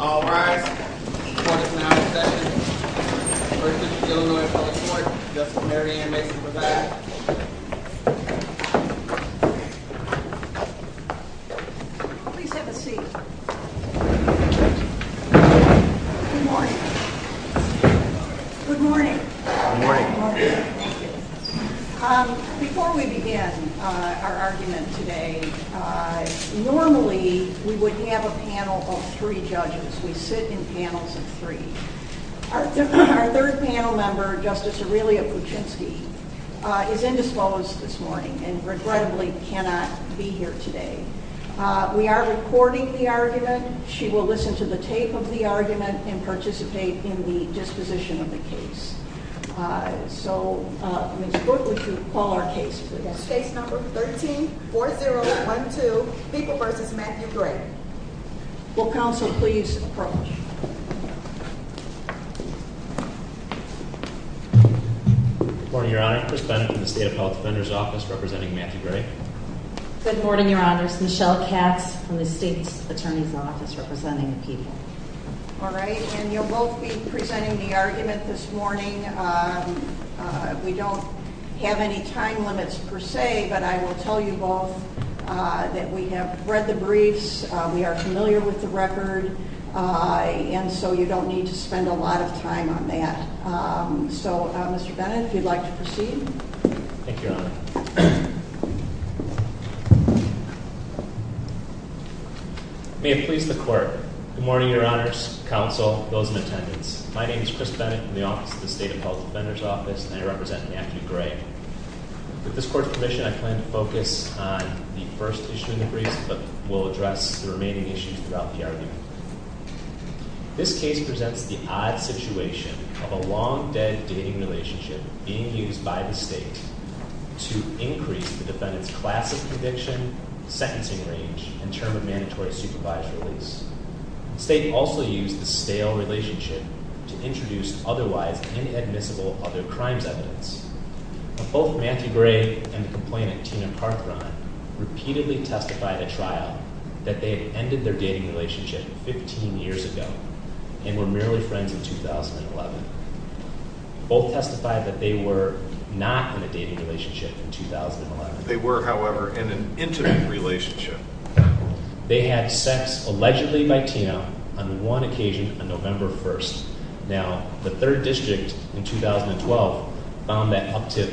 All rise. Court is now in session. First is the Illinois Public Court. Justice Mary Ann Mason for that. Please have a seat. Good morning. Good morning. Good morning. Before we begin our argument today, normally we would have a panel of three judges. We sit in panels of three. Our third panel member, Justice Aurelia Kuczynski is indisposed this morning and regrettably cannot be here today. We are recording the argument. She will listen to the tape of the argument and participate in the disposition of the case. So Mr. Brook, would you call our case please? Case number 13-4012, People v. Matthew Gray. Will counsel please approach? Good morning, Your Honor. Chris Bennett from the State Appellate Defender's Office representing Matthew Gray. Good morning, Your Honors. Michelle Katz from the State Attorney's Office representing the People. All right, and you'll both be presenting the argument this morning. We don't have any time limits per se, but I will tell you both that we have read the briefs, we are familiar with the record, and so you don't need to spend a lot of time on that. So Mr. Bennett, if you'd like to proceed. Thank you, Your Honor. May it please the court. Good morning, Your Honors, counsel, those in attendance. My name is Chris Bennett from the office of the State Appellate Defender's Office, and I represent Matthew Gray. With this court's permission, I plan to focus on the first issue in the briefs, but will address the remaining issues throughout the argument. This case presents the odd situation of a long-dead dating relationship being used by the state to increase the defendant's class of conviction, sentencing range, and term of mandatory supervised release. The state also used the stale relationship to introduce otherwise inadmissible other crimes evidence. Both Matthew Gray and the complainant, Tina Parthran, repeatedly testified at trial that they had ended their dating relationship 15 years ago, and were merely friends in 2011. Both testified that they were not in a dating relationship in 2011. They were, however, in an intimate relationship. They had sex, allegedly by Tina, on one occasion on November 1st. Now, the Third District in 2012 found that up to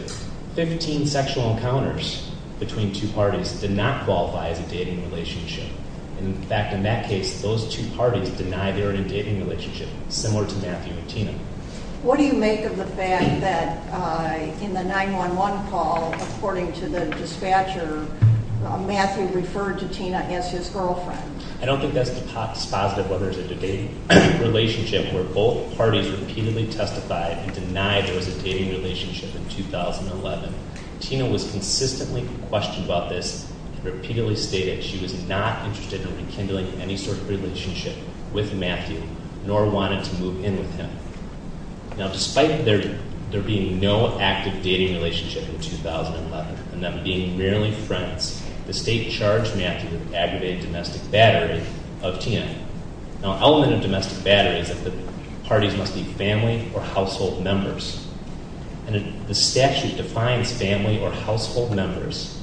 15 sexual encounters between two parties did not qualify as a dating relationship. In fact, in that case, those two parties denied they were in a dating relationship, similar to Matthew and Tina. What do you make of the fact that in the 911 call, according to the dispatcher, Matthew referred to Tina as his girlfriend? I don't think that's positive, whether it's a dating relationship where both parties repeatedly testified and denied there was a dating relationship in 2011. Tina was consistently questioned about this and repeatedly stated she was not interested in rekindling any sort of relationship with Matthew, nor wanted to move in with him. Now, despite there being no active dating relationship in 2011, and them being merely friends, the state charged Matthew with aggravated domestic battery of Tina. Now, an element of domestic battery is that the parties must be family or household members. And the statute defines family or household members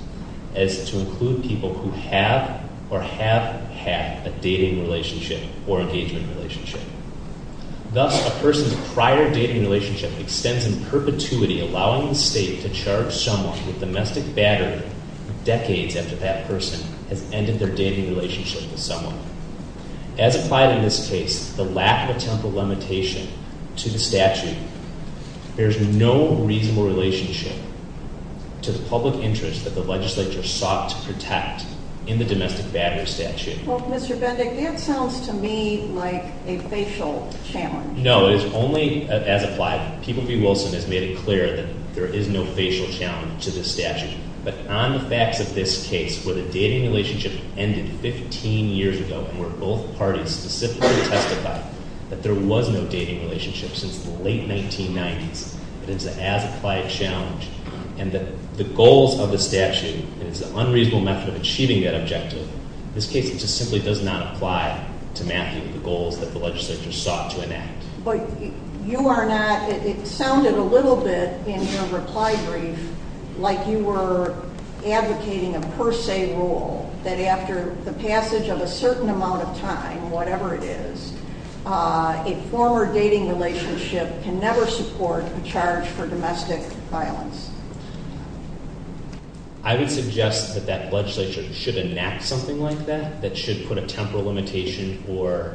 as to include people who have or have had a dating relationship or engagement relationship. Thus, a person's prior dating relationship extends in perpetuity, allowing the state to charge someone with domestic battery decades after that person has ended their dating relationship with someone. As applied in this case, the lack of a temporal limitation to the statute bears no reasonable relationship to the public interest that the legislature sought to protect in the domestic battery statute. Well, Mr. Bendick, that sounds to me like a facial challenge. No, it is only as applied. People v. Wilson has made it clear that there is no facial challenge to this statute. But on the facts of this case, where the dating relationship ended 15 years ago, and where both parties specifically testified that there was no dating relationship since the late 1990s, and it's an as-applied challenge, and that the goals of the statute, and it's an unreasonable method of achieving that objective, in this case it just simply does not apply to Matthew, the goals that the legislature sought to enact. But you are not, it sounded a little bit in your reply brief like you were advocating a per se rule, that after the passage of a certain amount of time, whatever it is, a former dating relationship can never support a charge for domestic violence. I would suggest that that legislature should enact something like that, that should put a temporal limitation or,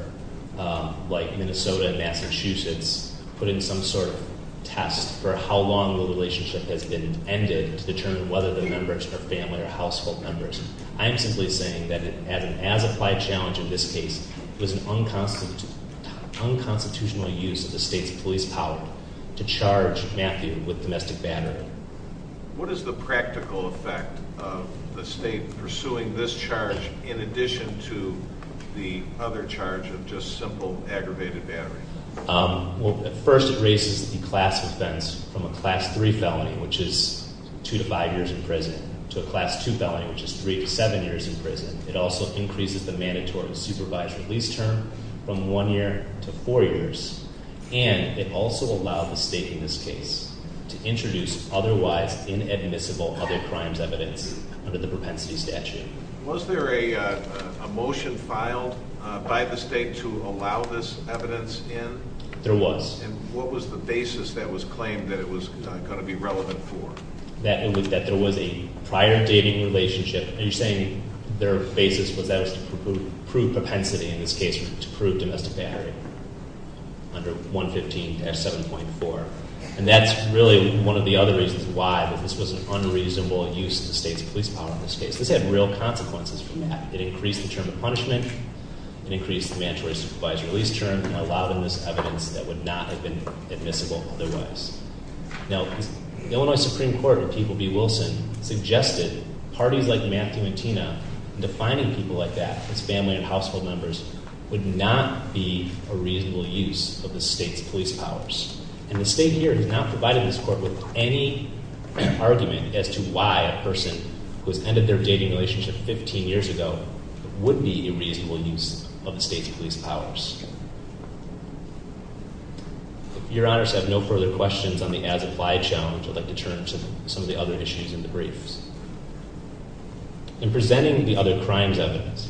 like Minnesota and Massachusetts, put in some sort of test for how long the relationship has been ended to determine whether the members are family or household members. I am simply saying that as an as-applied challenge in this case, it was an unconstitutional use of the state's police power to charge Matthew with domestic battery. What is the practical effect of the state pursuing this charge in addition to the other charge of just simple aggravated battery? Well, at first it raises the class offense from a class 3 felony, which is 2 to 5 years in prison, to a class 2 felony, which is 3 to 7 years in prison. It also increases the mandatory supervised release term from 1 year to 4 years. And it also allowed the state in this case to introduce otherwise inadmissible other crimes evidence under the propensity statute. Was there a motion filed by the state to allow this evidence in? There was. And what was the basis that was claimed that it was going to be relevant for? That there was a prior dating relationship, and you're saying their basis was that it was to prove propensity in this case, or to prove domestic battery under 115-7.4. And that's really one of the other reasons why this was an unreasonable use of the state's police power in this case. This had real consequences from that. It increased the term of punishment, it increased the mandatory supervised release term, and allowed them this evidence that would not have been admissible otherwise. Now, the Illinois Supreme Court, a people B. Wilson, suggested parties like Matthew and Tina, defining people like that as family and household members, would not be a reasonable use of the state's police powers. And the state here has not provided this court with any argument as to why a person who has ended their dating relationship 15 years ago would be a reasonable use of the state's police powers. If your honors have no further questions on the as-implied challenge, I'd like to turn to some of the other issues in the briefs. In presenting the other crimes evidence,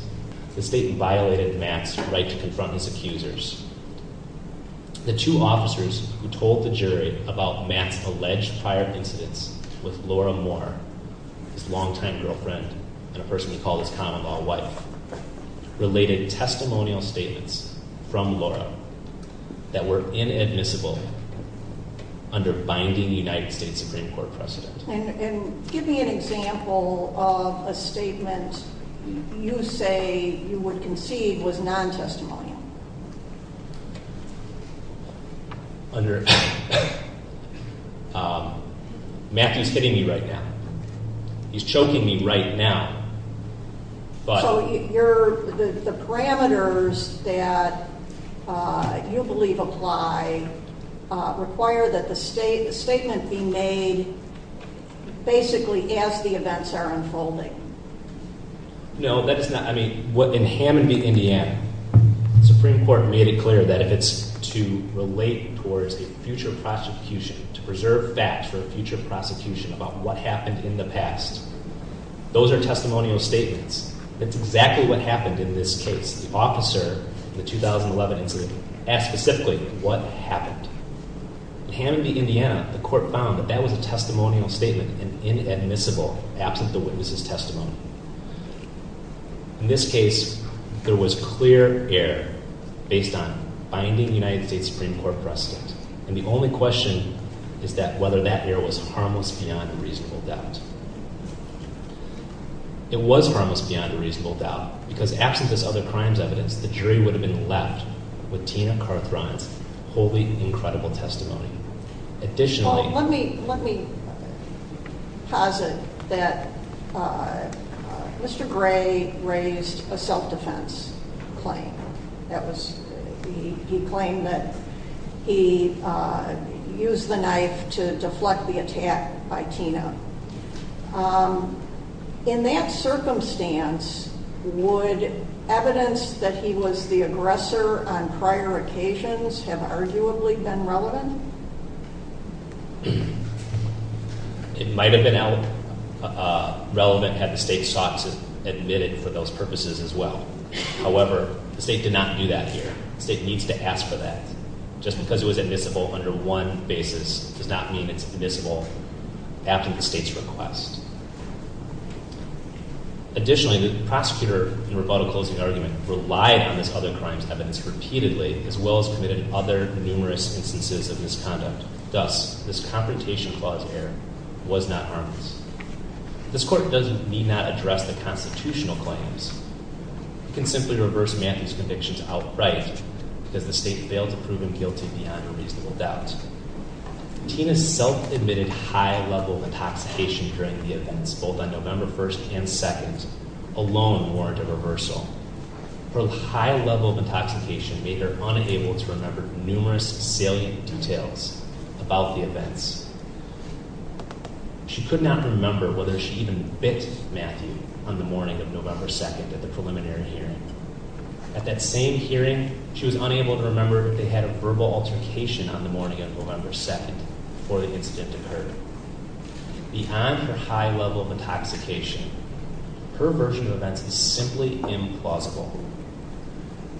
the state violated Matt's right to confront his accusers. The two officers who told the jury about Matt's alleged prior incidents with Laura Moore, his longtime girlfriend, and a person we call his common-law wife, related testimonial statements from Laura that were inadmissible under binding United States Supreme Court precedent. And give me an example of a statement you say you would concede was non-testimonial. Matthew's hitting me right now. He's choking me right now. So the parameters that you believe apply require that the statement be made basically as the events are unfolding. No, that is not. I mean, in Hammond v. Indiana, the Supreme Court made it clear that if it's to relate towards a future prosecution, to preserve facts for a future prosecution about what happened in the past, those are testimonial statements. That's exactly what happened in this case. The officer in the 2011 incident asked specifically what happened. In Hammond v. Indiana, the court found that that was a testimonial statement and inadmissible absent the witness's testimony. In this case, there was clear error based on binding United States Supreme Court precedent. And the only question is whether that error was harmless beyond a reasonable doubt. It was harmless beyond a reasonable doubt because absent this other crimes evidence, the jury would have been left with Tina Carthrine's wholly incredible testimony. Additionally, let me let me posit that Mr. Gray raised a self-defense claim. That was he claimed that he used the knife to deflect the attack by Tina. In that circumstance, would evidence that he was the aggressor on prior occasions have arguably been relevant? It might have been relevant had the state sought to admit it for those purposes as well. However, the state did not do that here. The state needs to ask for that. Just because it was admissible under one basis does not mean it's admissible after the state's request. Additionally, the prosecutor in rebuttal closing argument relied on this other crimes evidence repeatedly as well as committed other numerous instances of misconduct. Thus, this confrontation clause error was not harmless. This court does need not address the constitutional claims. We can simply reverse Matthew's convictions outright because the state failed to prove him guilty beyond a reasonable doubt. Tina's self-admitted high level of intoxication during the events, both on November 1st and 2nd, alone warranted reversal. Her high level of intoxication made her unable to remember numerous salient details about the events. She could not remember whether she even bit Matthew on the morning of November 2nd at the preliminary hearing. At that same hearing, she was unable to remember if they had a verbal altercation on the morning of November 2nd before the incident occurred. Beyond her high level of intoxication, her version of events is simply implausible.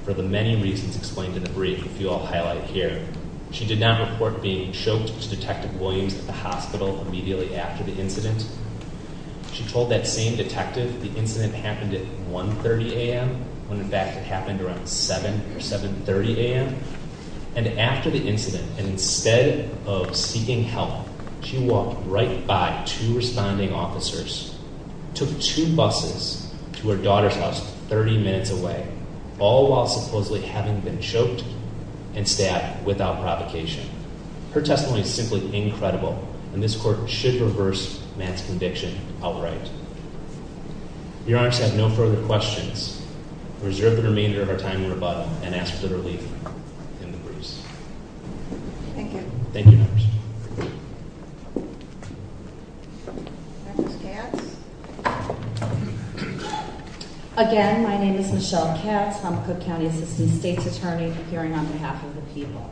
For the many reasons explained in the brief, which you all highlighted here, she did not report being choked to Detective Williams at the hospital immediately after the incident. She told that same detective the incident happened at 1.30 a.m. when in fact it happened around 7 or 7.30 a.m. And after the incident, and instead of seeking help, she walked right by two responding officers, took two buses to her daughter's house 30 minutes away, all while supposedly having been choked and stabbed without provocation. Her testimony is simply incredible, and this court should reverse Matt's conviction outright. Your honors have no further questions. Reserve the remainder of your time in rebuttal and ask for relief in the briefs. Thank you, your honors. Again, my name is Michelle Katz. I'm a Cook County Assistant State's Attorney appearing on behalf of the people.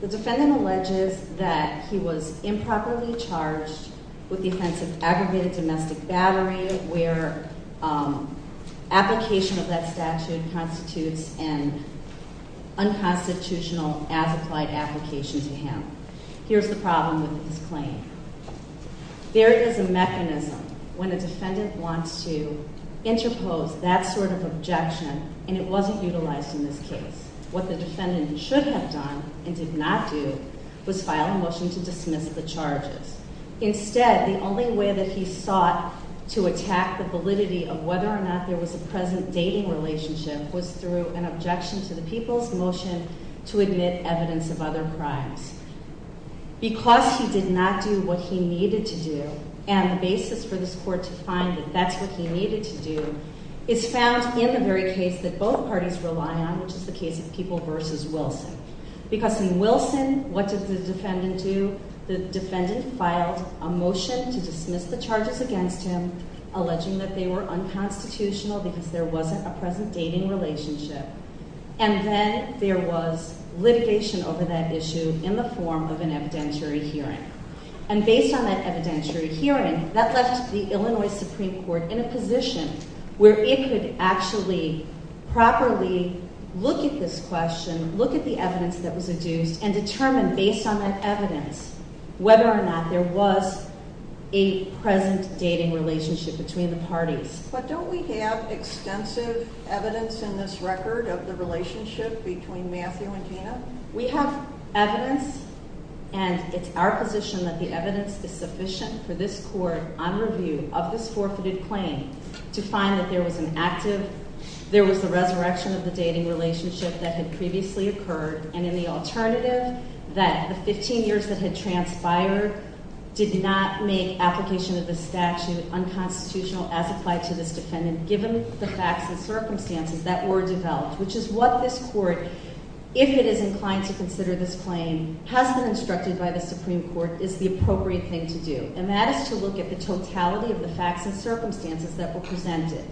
The defendant alleges that he was improperly charged with the offense of aggregated domestic battery, where application of that statute constitutes an unconstitutional as-applied application to him. Here's the problem with his claim. There is a mechanism when a defendant wants to interpose that sort of objection, and it wasn't utilized in this case. What the defendant should have done and did not do was file a motion to dismiss the charges. Instead, the only way that he sought to attack the validity of whether or not there was a present dating relationship was through an objection to the people's motion to admit evidence of other crimes. Because he did not do what he needed to do, and the basis for this court to find that that's what he needed to do is found in the very case that both parties rely on, which is the case of People v. Wilson. Because in Wilson, what did the defendant do? The defendant filed a motion to dismiss the charges against him, alleging that they were unconstitutional because there wasn't a present dating relationship. And then there was litigation over that issue in the form of an evidentiary hearing. And based on that evidentiary hearing, that left the Illinois Supreme Court in a position where it could actually properly look at this question, look at the evidence that was adduced, and determine based on that evidence whether or not there was a present dating relationship between the parties. But don't we have extensive evidence in this record of the relationship between Matthew and Gina? We have evidence, and it's our position that the evidence is sufficient for this court, on review of this forfeited claim, to find that there was an active, there was a resurrection of the dating relationship that had previously occurred, and in the alternative, that the 15 years that had transpired did not make application of the statute unconstitutional as applied to this defendant, given the facts and circumstances that were developed. Which is what this court, if it is inclined to consider this claim, has been instructed by the Supreme Court, is the appropriate thing to do. And that is to look at the totality of the facts and circumstances that were presented.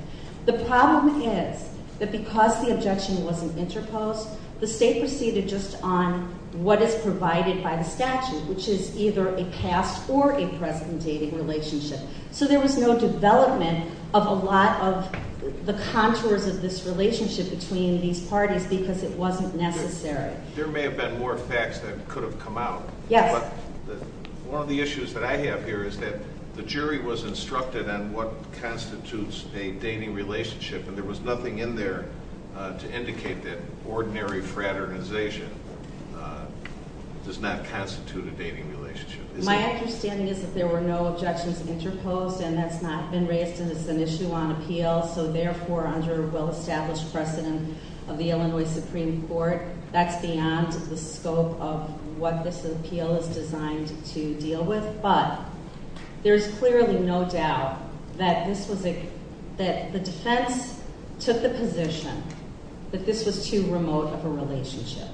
The problem is that because the objection wasn't interposed, the state proceeded just on what is provided by the statute, which is either a past or a present dating relationship. So there was no development of a lot of the contours of this relationship between these parties because it wasn't necessary. There may have been more facts that could have come out. Yes. One of the issues that I have here is that the jury was instructed on what constitutes a dating relationship, and there was nothing in there to indicate that ordinary fraternization does not constitute a dating relationship. My understanding is that there were no objections interposed, and that's not been raised, and it's an issue on appeal. So therefore, under well-established precedent of the Illinois Supreme Court, that's beyond the scope of what this appeal is designed to deal with. But there's clearly no doubt that the defense took the position that this was too remote of a relationship,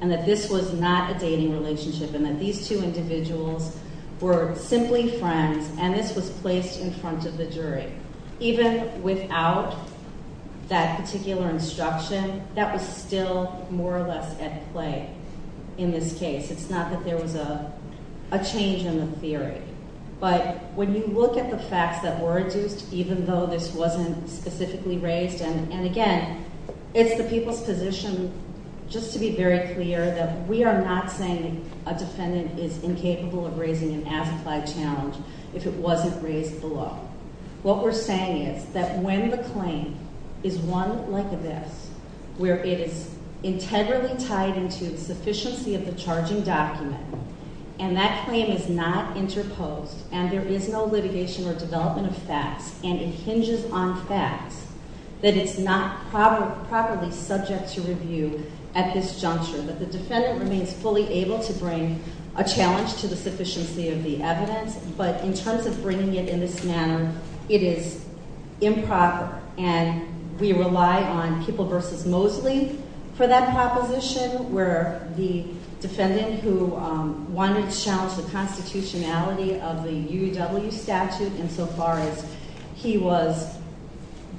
and that this was not a dating relationship, and that these two individuals were simply friends, and this was placed in front of the jury. Even without that particular instruction, that was still more or less at play in this case. It's not that there was a change in the theory. But when you look at the facts that were adduced, even though this wasn't specifically raised, and again, it's the people's position just to be very clear that we are not saying a defendant is incapable of raising an as-applied challenge if it wasn't raised below. What we're saying is that when the claim is one like this, where it is integrally tied into the sufficiency of the charging document, and that claim is not interposed, and there is no litigation or development of facts, and it hinges on facts, that it's not properly subject to review at this juncture, that the defendant remains fully able to bring a challenge to the sufficiency of the evidence. But in terms of bringing it in this manner, it is improper, and we rely on People v. Mosley for that proposition, where the defendant who wanted to challenge the constitutionality of the UW statute insofar as he was,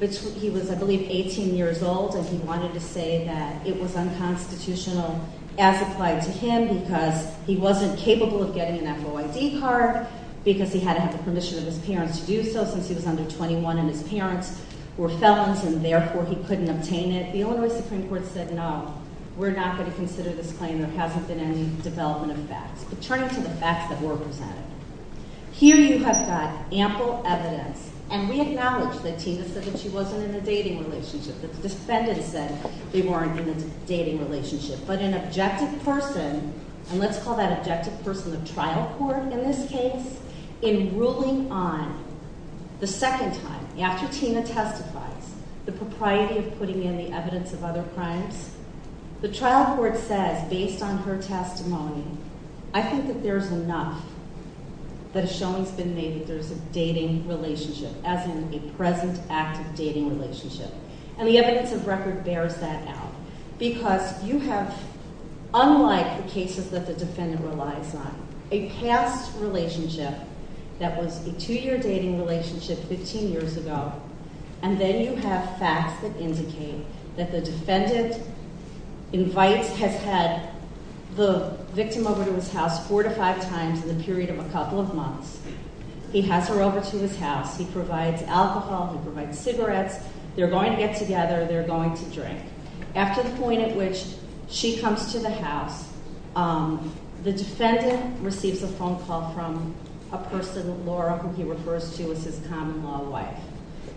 I believe, 18 years old, and he wanted to say that it was unconstitutional as applied to him because he wasn't capable of getting an FOID card because he had to have the permission of his parents to do so since he was under 21, and his parents were felons, and therefore he couldn't obtain it. And the Illinois Supreme Court said, no, we're not going to consider this claim. There hasn't been any development of facts. But turning to the facts that were presented, here you have got ample evidence, and we acknowledge that Tina said that she wasn't in a dating relationship. The defendant said they weren't in a dating relationship, but an objective person, and let's call that objective person the trial court in this case, in ruling on the second time, after Tina testifies, the propriety of putting in the evidence of other crimes. The trial court says, based on her testimony, I think that there's enough that has shown it's been made that there's a dating relationship, as in a present active dating relationship. And the evidence of record bears that out because you have, unlike the cases that the defendant relies on, a past relationship that was a two-year dating relationship 15 years ago, and then you have facts that indicate that the defendant invites, has had the victim over to his house four to five times in the period of a couple of months. He has her over to his house. He provides alcohol. He provides cigarettes. They're going to get together. They're going to drink. After the point at which she comes to the house, the defendant receives a phone call from a person, Laura, who he refers to as his common-law wife.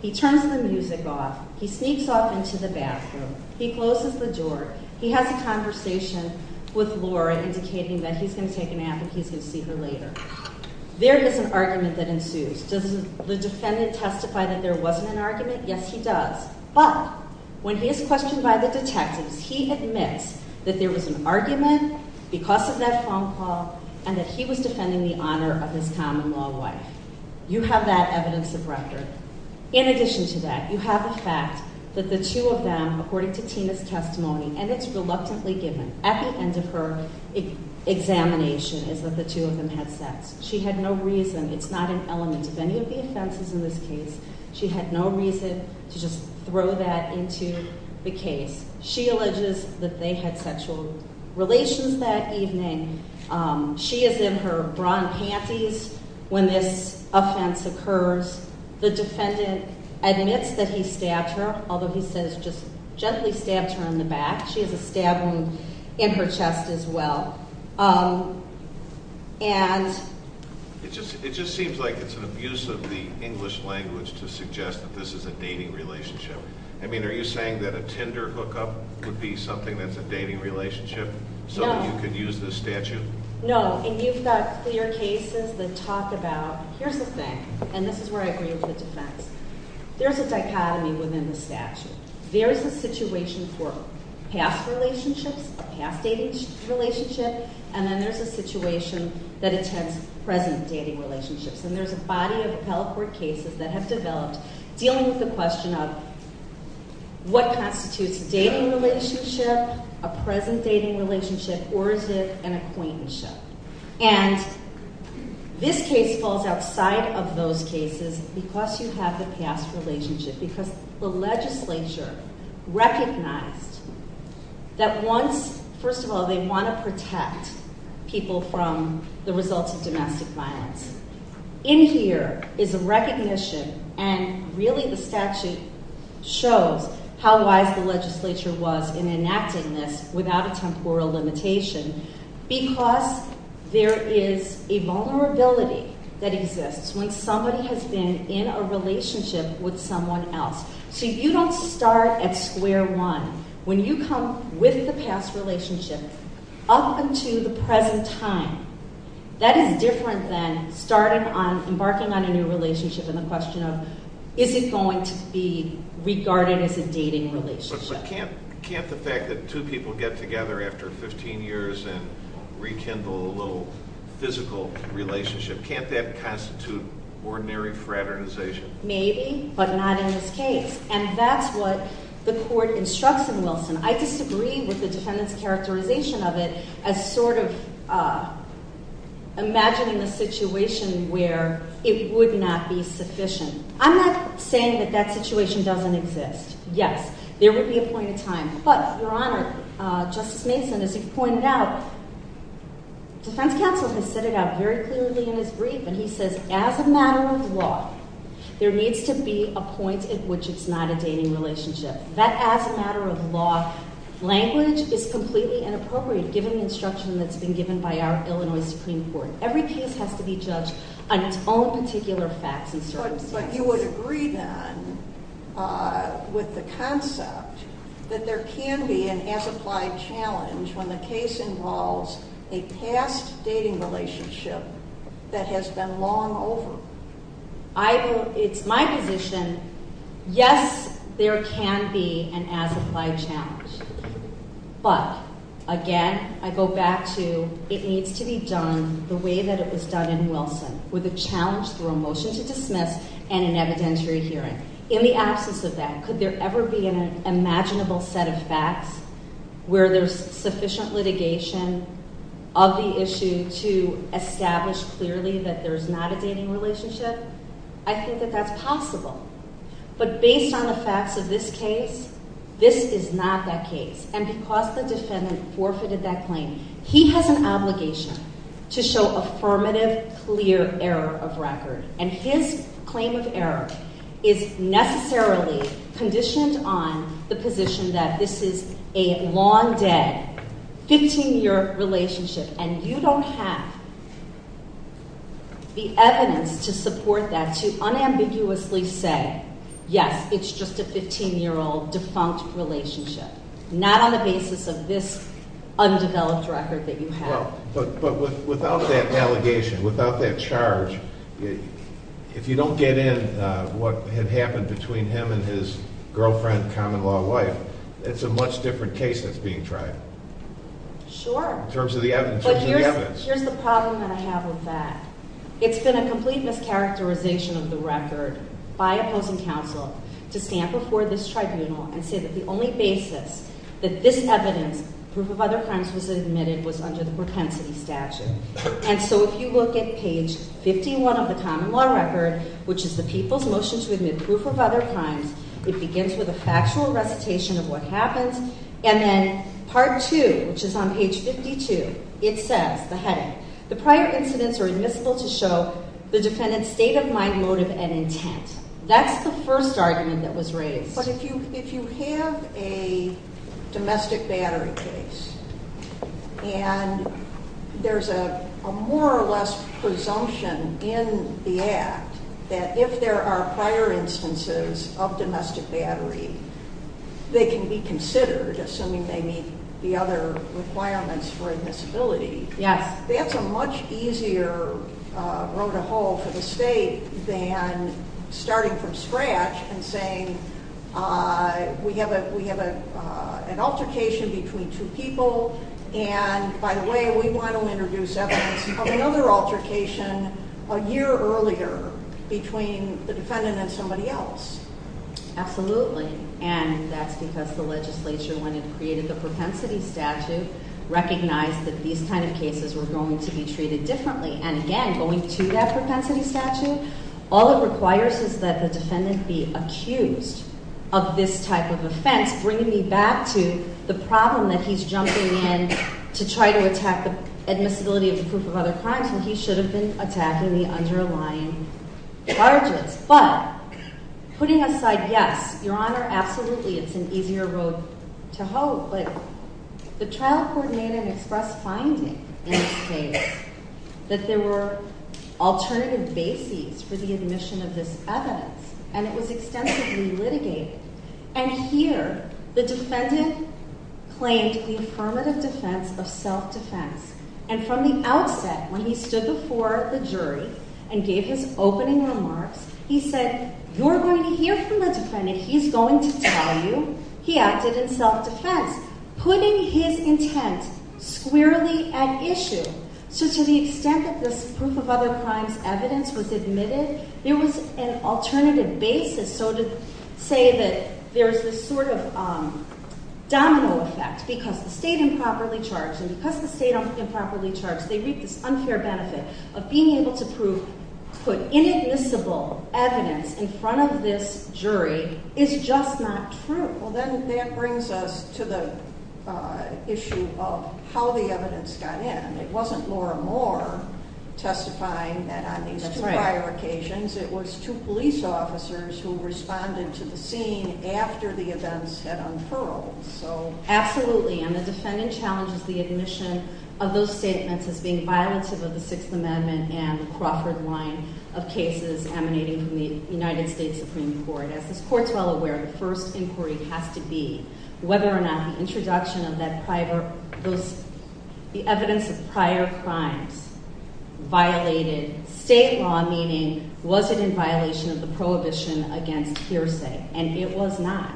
He turns the music off. He sneaks off into the bathroom. He closes the door. He has a conversation with Laura, indicating that he's going to take a nap and he's going to see her later. There is an argument that ensues. Does the defendant testify that there wasn't an argument? Yes, he does. But when he is questioned by the detectives, he admits that there was an argument because of that phone call and that he was defending the honor of his common-law wife. You have that evidence of record. In addition to that, you have the fact that the two of them, according to Tina's testimony, and it's reluctantly given at the end of her examination is that the two of them had sex. She had no reason. It's not an element of any of the offenses in this case. She had no reason to just throw that into the case. She alleges that they had sexual relations that evening. She is in her bra and panties when this offense occurs. The defendant admits that he stabbed her, although he says just gently stabbed her in the back. She has a stab wound in her chest as well. It just seems like it's an abuse of the English language to suggest that this is a dating relationship. I mean, are you saying that a Tinder hookup would be something that's a dating relationship so that you could use this statute? No, and you've got clear cases that talk about, here's the thing, and this is where I agree with the defense. There's a dichotomy within the statute. There is a situation for past relationships, a past dating relationship, and then there's a situation that attends present dating relationships. And there's a body of appellate court cases that have developed dealing with the question of what constitutes a dating relationship, a present dating relationship, or is it an acquaintanceship? And this case falls outside of those cases because you have the past relationship, because the legislature recognized that once, first of all, they want to protect people from the results of domestic violence. In here is a recognition, and really the statute shows how wise the legislature was in enacting this without a temporal limitation because there is a vulnerability that exists when somebody has been in a relationship with someone else. So you don't start at square one. When you come with the past relationship up until the present time, that is different than embarking on a new relationship and the question of is it going to be regarded as a dating relationship. But can't the fact that two people get together after 15 years and rekindle a little physical relationship, can't that constitute ordinary fraternization? Maybe, but not in this case. And that's what the court instructs in Wilson. I disagree with the defendant's characterization of it as sort of imagining a situation where it would not be sufficient. I'm not saying that that situation doesn't exist. Yes, there would be a point in time. But, Your Honor, Justice Mason, as you've pointed out, defense counsel has said it out very clearly in his brief, and he says as a matter of law, there needs to be a point at which it's not a dating relationship. That as a matter of law language is completely inappropriate given the instruction that's been given by our Illinois Supreme Court. Every case has to be judged on its own particular facts and circumstances. But you would agree, then, with the concept that there can be an as-applied challenge when the case involves a past dating relationship that has been long over. It's my position, yes, there can be an as-applied challenge. But, again, I go back to it needs to be done the way that it was done in Wilson, with a challenge through a motion to dismiss and an evidentiary hearing. In the absence of that, could there ever be an imaginable set of facts where there's sufficient litigation of the issue to establish clearly that there's not a dating relationship? I think that that's possible. But based on the facts of this case, this is not that case. And because the defendant forfeited that claim, he has an obligation to show affirmative, clear error of record. And his claim of error is necessarily conditioned on the position that this is a long-dead, 15-year relationship, and you don't have the evidence to support that, to unambiguously say, yes, it's just a 15-year-old defunct relationship, not on the basis of this undeveloped record that you have. But without that allegation, without that charge, if you don't get in what had happened between him and his girlfriend, common-law wife, it's a much different case that's being tried. Sure. In terms of the evidence. But here's the problem that I have with that. It's been a complete mischaracterization of the record by opposing counsel to stand before this tribunal and say that the only basis that this evidence, proof of other crimes, was admitted was under the propensity statute. And so if you look at page 51 of the common-law record, which is the people's motion to admit proof of other crimes, it begins with a factual recitation of what happened, and then part two, which is on page 52, it says, the heading, the prior incidents are admissible to show the defendant's state of mind, motive, and intent. That's the first argument that was raised. But if you have a domestic battery case and there's a more or less presumption in the Act that if there are prior instances of domestic battery, they can be considered, assuming they meet the other requirements for admissibility. Yes. That's a much easier road to hoe for the state than starting from scratch and saying we have an altercation between two people and, by the way, we want to introduce evidence of another altercation a year earlier between the defendant and somebody else. Absolutely. And that's because the legislature, when it created the propensity statute, recognized that these kind of cases were going to be treated differently. And again, going to that propensity statute, all it requires is that the defendant be accused of this type of offense, bringing me back to the problem that he's jumping in to try to attack the admissibility of the proof of other crimes, and he should have been attacking the underlying charges. But putting aside, yes, Your Honor, absolutely it's an easier road to hoe, but the trial court made an express finding in this case that there were alternative bases for the admission of this evidence, and it was extensively litigated. And here, the defendant claimed the affirmative defense of self-defense, and from the outset, when he stood before the jury and gave his opening remarks, he said, you're going to hear from the defendant. He's going to tell you he acted in self-defense, putting his intent squarely at issue. So to the extent that this proof of other crimes evidence was admitted, there was an alternative basis. So to say that there's this sort of domino effect because the state improperly charged, and because the state improperly charged, they reap this unfair benefit of being able to prove, put inadmissible evidence in front of this jury is just not true. Well, then that brings us to the issue of how the evidence got in. It wasn't Laura Moore testifying that on these two prior occasions. It was two police officers who responded to the scene after the events had unfurled. Absolutely, and the defendant challenges the admission of those statements as being violative of the Sixth Amendment and the Crawford line of cases emanating from the United States Supreme Court. As this court's well aware, the first inquiry has to be whether or not the introduction of that private, the evidence of prior crimes violated state law, meaning was it in violation of the prohibition against hearsay? And it was not,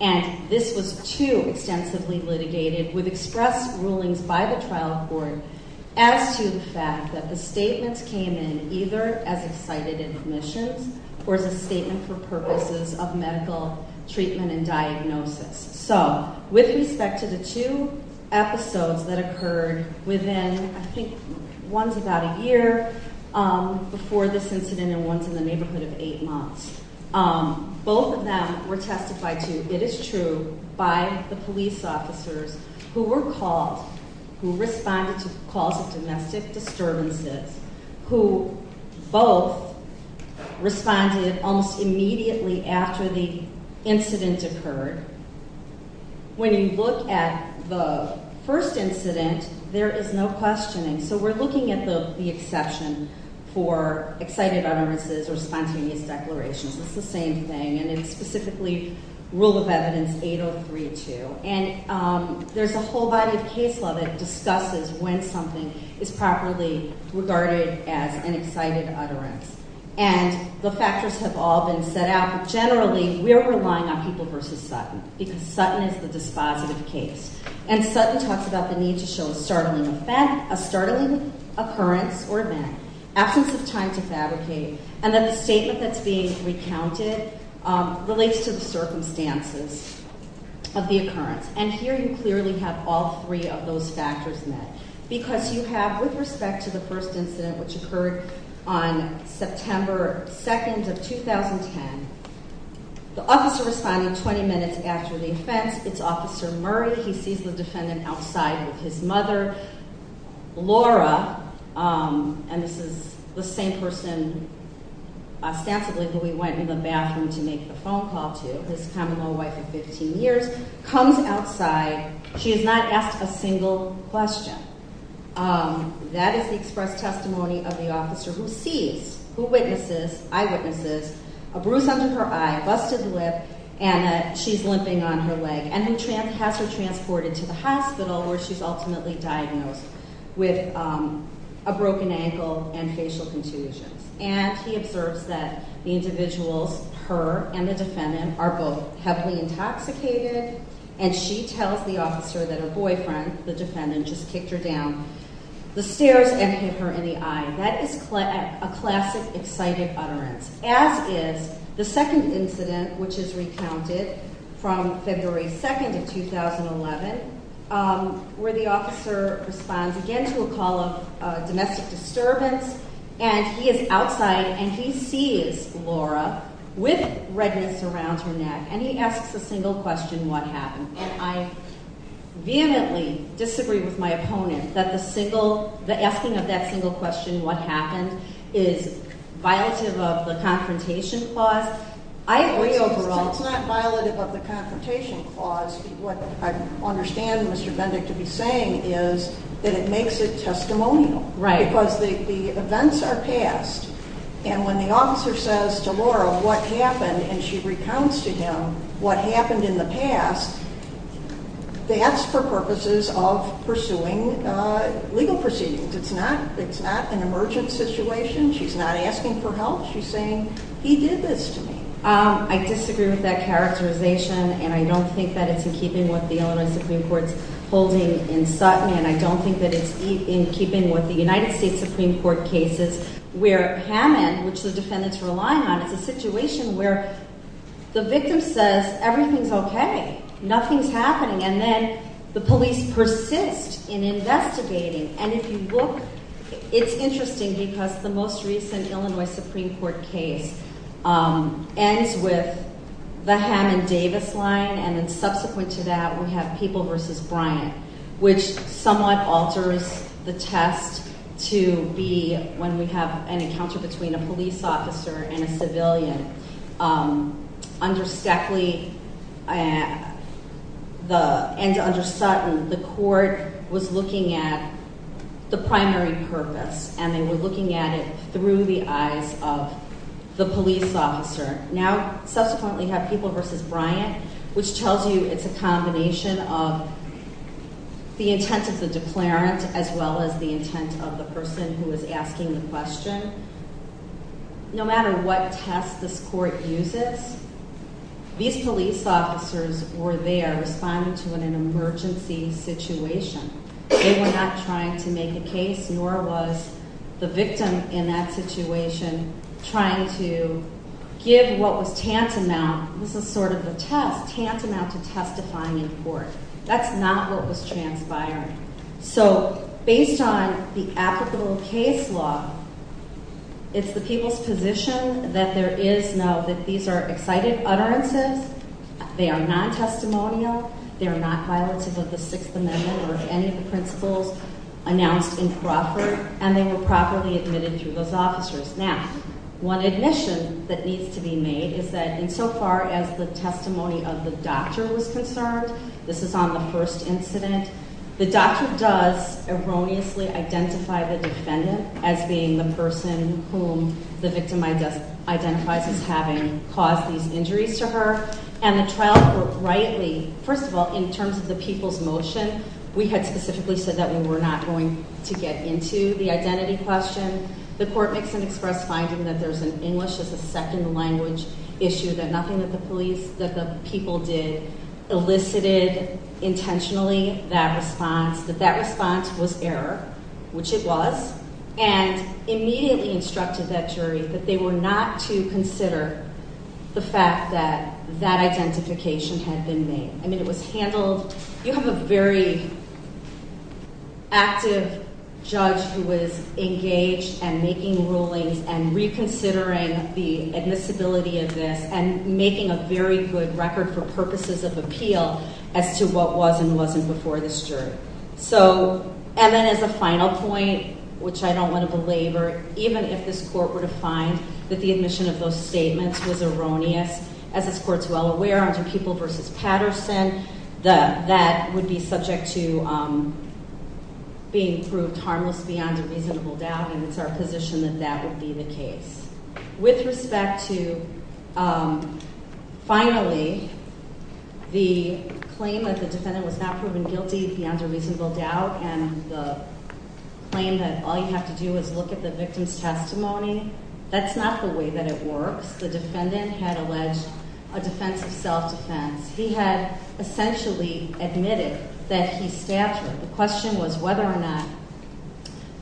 and this was too extensively litigated with expressed rulings by the trial court as to the fact that the statements came in either as excited admissions or as a statement for purposes of medical treatment and diagnosis. So with respect to the two episodes that occurred within, I think one's about a year before this incident and one's in the neighborhood of eight months, both of them were testified to, it is true, by the police officers who were called, who responded to calls of domestic disturbances, who both responded almost immediately after the incident occurred. When you look at the first incident, there is no questioning. So we're looking at the exception for excited utterances or spontaneous declarations. It's the same thing, and it's specifically Rule of Evidence 803-2. And there's a whole body of case law that discusses when something is properly regarded as an excited utterance. And the factors have all been set out, but generally we're relying on people versus Sutton because Sutton is the dispositive case. And Sutton talks about the need to show a startling occurrence or event, absence of time to fabricate, and that the statement that's being recounted relates to the circumstances of the occurrence. And here you clearly have all three of those factors met because you have, with respect to the first incident, which occurred on September 2nd of 2010, the officer responding 20 minutes after the offense, it's Officer Murray, he sees the defendant outside with his mother. Laura, and this is the same person ostensibly who he went in the bathroom to make the phone call to, his common-law wife of 15 years, comes outside. She has not asked a single question. That is the express testimony of the officer who sees, who witnesses, eyewitnesses, a bruise under her eye, a busted lip, and she's limping on her leg, and has her transported to the hospital where she's ultimately diagnosed with a broken ankle and facial contusions. And he observes that the individuals, her and the defendant, are both heavily intoxicated, and she tells the officer that her boyfriend, the defendant, just kicked her down the stairs and hit her in the eye. That is a classic excited utterance, as is the second incident, which is recounted from February 2nd of 2011, where the officer responds again to a call of domestic disturbance, and he is outside and he sees Laura with redness around her neck, and he asks a single question, what happened? And I vehemently disagree with my opponent that the asking of that single question, what happened, is violative of the Confrontation Clause. I agree overall- It's not violative of the Confrontation Clause. What I understand Mr. Bendick to be saying is that it makes it testimonial. Right. Because the events are past, and when the officer says to Laura what happened, and she recounts to him what happened in the past, that's for purposes of pursuing legal proceedings. It's not an emergent situation. She's not asking for help. She's saying, he did this to me. I disagree with that characterization, and I don't think that it's in keeping with the Illinois Supreme Court's holding in Sutton, and I don't think that it's in keeping with the United States Supreme Court cases where Hammond, which the defendant's relying on, is a situation where the victim says everything's okay, nothing's happening, and then the police persist in investigating. And if you look, it's interesting because the most recent Illinois Supreme Court case ends with the Hammond-Davis line, and then subsequent to that we have People v. Bryant, which somewhat alters the test to be when we have an encounter between a police officer and a civilian. Under Stackley and under Sutton, the court was looking at the primary purpose, and they were looking at it through the eyes of the police officer. Now, subsequently you have People v. Bryant, which tells you it's a combination of the intent of the declarant as well as the intent of the person who is asking the question. No matter what test this court uses, these police officers were there responding to an emergency situation. They were not trying to make a case, nor was the victim in that situation trying to give what was tantamount, this is sort of a test, tantamount to testifying in court. That's not what was transpired. So based on the applicable case law, it's the people's position that there is no, that these are excited utterances, they are non-testimonial, they are not violative of the Sixth Amendment or any of the principles announced in Crawford, and they were properly admitted through those officers. Now, one admission that needs to be made is that insofar as the testimony of the doctor was concerned, this is on the first incident, the doctor does erroneously identify the defendant as being the person whom the victim identifies as having caused these injuries to her. And the trial rightly, first of all, in terms of the people's motion, we had specifically said that we were not going to get into the identity question. The court makes an express finding that there's an English as a second language issue, that nothing that the police, that the people did elicited intentionally that response, which it was, and immediately instructed that jury that they were not to consider the fact that that identification had been made. I mean, it was handled, you have a very active judge who was engaged and making rulings and reconsidering the admissibility of this and making a very good record for purposes of appeal as to what was and wasn't before this jury. So, and then as a final point, which I don't want to belabor, even if this court were to find that the admission of those statements was erroneous, as this court's well aware, under People v. Patterson, that would be subject to being proved harmless beyond a reasonable doubt, and it's our position that that would be the case. With respect to, finally, the claim that the defendant was not proven guilty beyond a reasonable doubt and the claim that all you have to do is look at the victim's testimony, that's not the way that it works. The defendant had alleged a defense of self-defense. He had essentially admitted that he stabbed her. The question was whether or not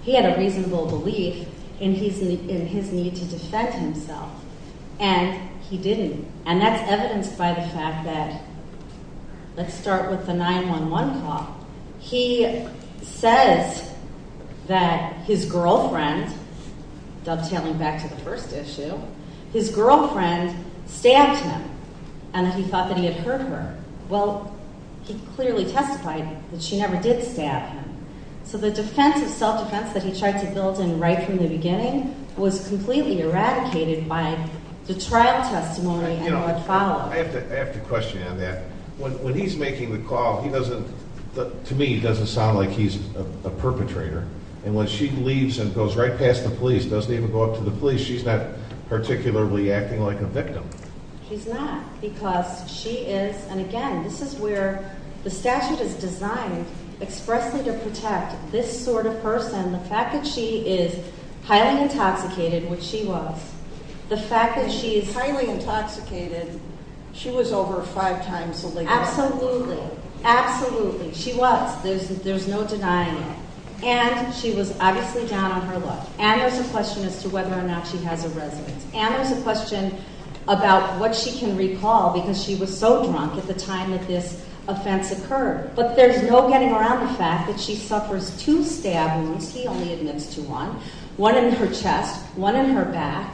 he had a reasonable belief in his need to defend himself, and he didn't. And that's evidenced by the fact that, let's start with the 911 call. He says that his girlfriend, dovetailing back to the first issue, his girlfriend stabbed him and that he thought that he had hurt her. Well, he clearly testified that she never did stab him. So the defense of self-defense that he tried to build in right from the beginning was completely eradicated by the trial testimony that followed. I have to question you on that. When he's making the call, he doesn't, to me, doesn't sound like he's a perpetrator. And when she leaves and goes right past the police, doesn't even go up to the police, she's not particularly acting like a victim. She's not because she is, and again, this is where the statute is designed expressly to protect this sort of person. The fact that she is highly intoxicated, which she was. The fact that she is highly intoxicated, she was over five times illegal. Absolutely, absolutely. She was. There's no denying it. And she was obviously down on her luck. And there's a question as to whether or not she has a residence. And there's a question about what she can recall because she was so drunk at the time that this offense occurred. But there's no getting around the fact that she suffers two stab wounds. He only admits to one. One in her chest, one in her back.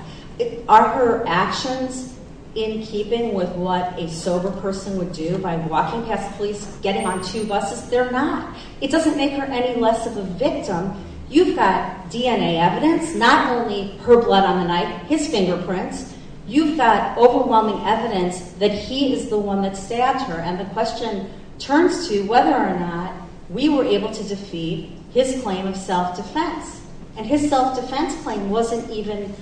Are her actions in keeping with what a sober person would do by walking past police, getting on two buses? They're not. It doesn't make her any less of a victim. You've got DNA evidence, not only her blood on the knife, his fingerprints. You've got overwhelming evidence that he is the one that stabbed her. And the question turns to whether or not we were able to defeat his claim of self-defense. And his self-defense claim wasn't even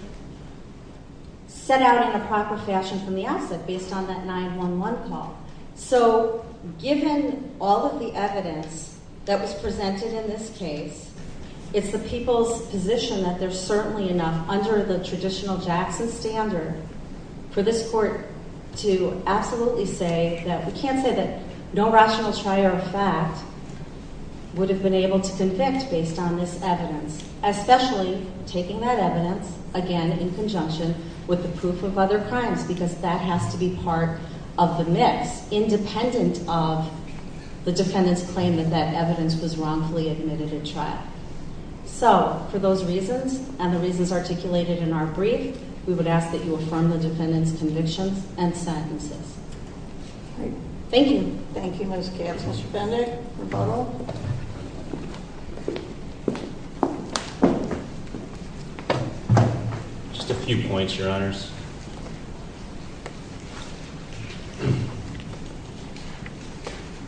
set out in a proper fashion from the outset based on that 911 call. So given all of the evidence that was presented in this case, it's the people's position that there's certainly enough under the traditional Jackson standard for this court to absolutely say that we can't say that no rational trier of fact would have been able to convict based on this evidence, especially taking that evidence, again, in conjunction with the proof of other crimes, because that has to be part of the mix, independent of the defendant's claim that that evidence was wrongfully admitted at trial. So for those reasons and the reasons articulated in our brief, we would ask that you affirm the defendant's convictions and sentences. Thank you. Thank you, Ms. Katz. Mr. Bender? Mr. Bender? Just a few points, Your Honors.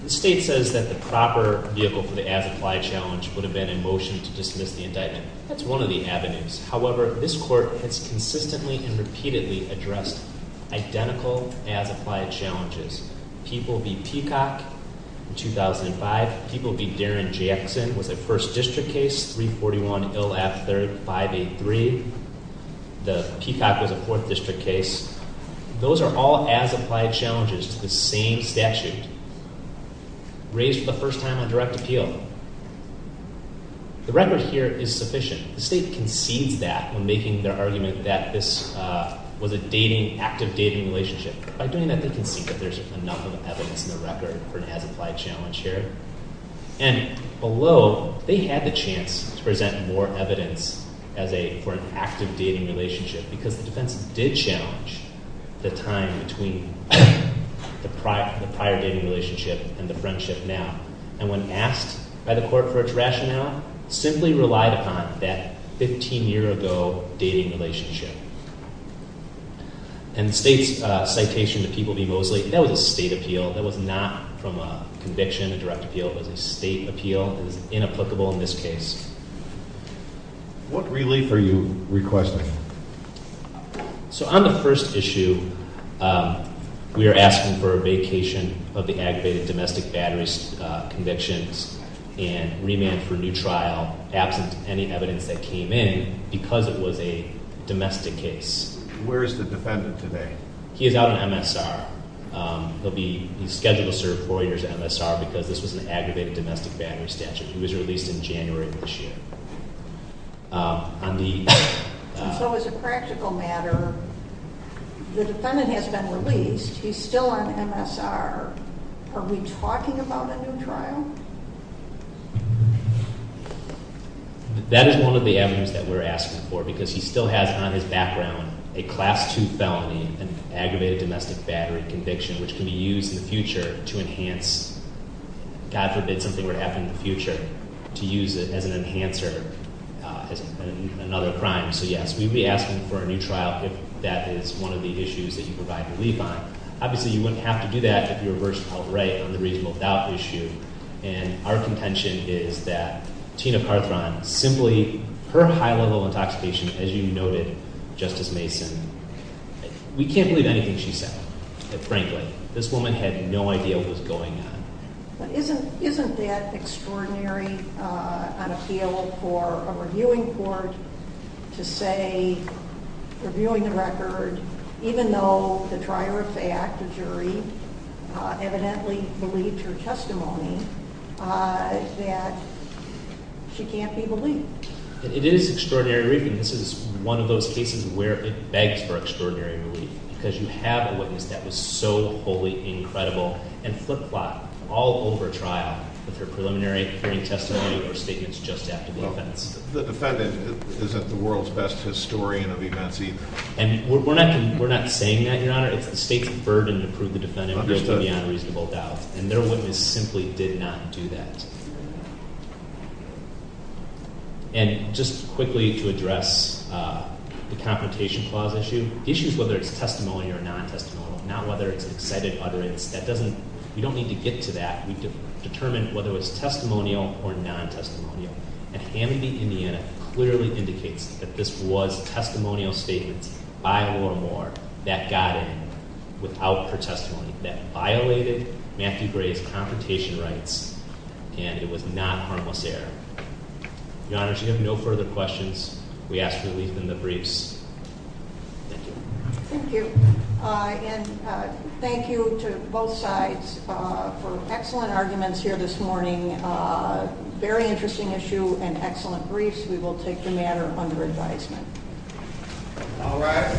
The state says that the proper vehicle for the as-applied challenge would have been in motion to dismiss the indictment. That's one of the avenues. However, this court has consistently and repeatedly addressed identical as-applied challenges. People v. Peacock, 2005. People v. Darren Jackson was a first district case, 341-LF-583. The Peacock was a fourth district case. Those are all as-applied challenges to the same statute, raised for the first time on direct appeal. The record here is sufficient. The state concedes that when making their argument that this was a dating, active dating relationship. By doing that, they can see that there's enough evidence in the record for an as-applied challenge here. And below, they had the chance to present more evidence as a, for an active dating relationship because the defense did challenge the time between the prior dating relationship and the friendship now. And when asked by the court for its rationale, simply relied upon that 15-year-ago dating relationship. And the state's citation to people v. Mosley, that was a state appeal. That was not from a conviction, a direct appeal. It was a state appeal. It is inapplicable in this case. What relief are you requesting? So on the first issue, we are asking for a vacation of the aggravated domestic battery convictions and remand for new trial, absent any evidence that came in, because it was a domestic case. Where is the defendant today? He is out on MSR. He'll be, he's scheduled to serve four years on MSR because this was an aggravated domestic battery statute. It was released in January of this year. On the... So as a practical matter, the defendant has been released. He's still on MSR. Are we talking about a new trial? That is one of the avenues that we're asking for because he still has on his background a Class II felony, an aggravated domestic battery conviction, which can be used in the future to enhance, God forbid something were to happen in the future, to use it as an enhancer, another crime. So yes, we'd be asking for a new trial if that is one of the issues that you provide relief on. Obviously, you wouldn't have to do that if you were versed outright on the reasonable doubt issue, and our contention is that Tina Carthron, simply her high-level intoxication, as you noted, Justice Mason, we can't believe anything she said, frankly. This woman had no idea what was going on. Isn't that extraordinary on appeal for a reviewing court to say, reviewing the record, even though the trier of fact, the jury, evidently believed her testimony, that she can't be relieved? It is extraordinary relief, and this is one of those cases where it begs for extraordinary relief because you have a witness that was so wholly incredible and flip-flopped all over trial with her preliminary hearing testimony or statements just after the offense. The defendant isn't the world's best historian of events either. And we're not saying that, Your Honor. It's the state's burden to prove the defendant guilty beyond reasonable doubt, and their witness simply did not do that. And just quickly to address the confrontation clause issue, the issue is whether it's testimony or non-testimony, not whether it's an excited utterance. We don't need to get to that. We determine whether it's testimonial or non-testimonial, and Hammond v. Indiana clearly indicates that this was testimonial statements by Lorimer that got in without her testimony, that violated Matthew Gray's confrontation rights, and it was not harmless error. Your Honor, if you have no further questions, we ask for relief in the briefs. Thank you. Thank you. And thank you to both sides for excellent arguments here this morning, very interesting issue and excellent briefs. We will take the matter under advisement. All rise.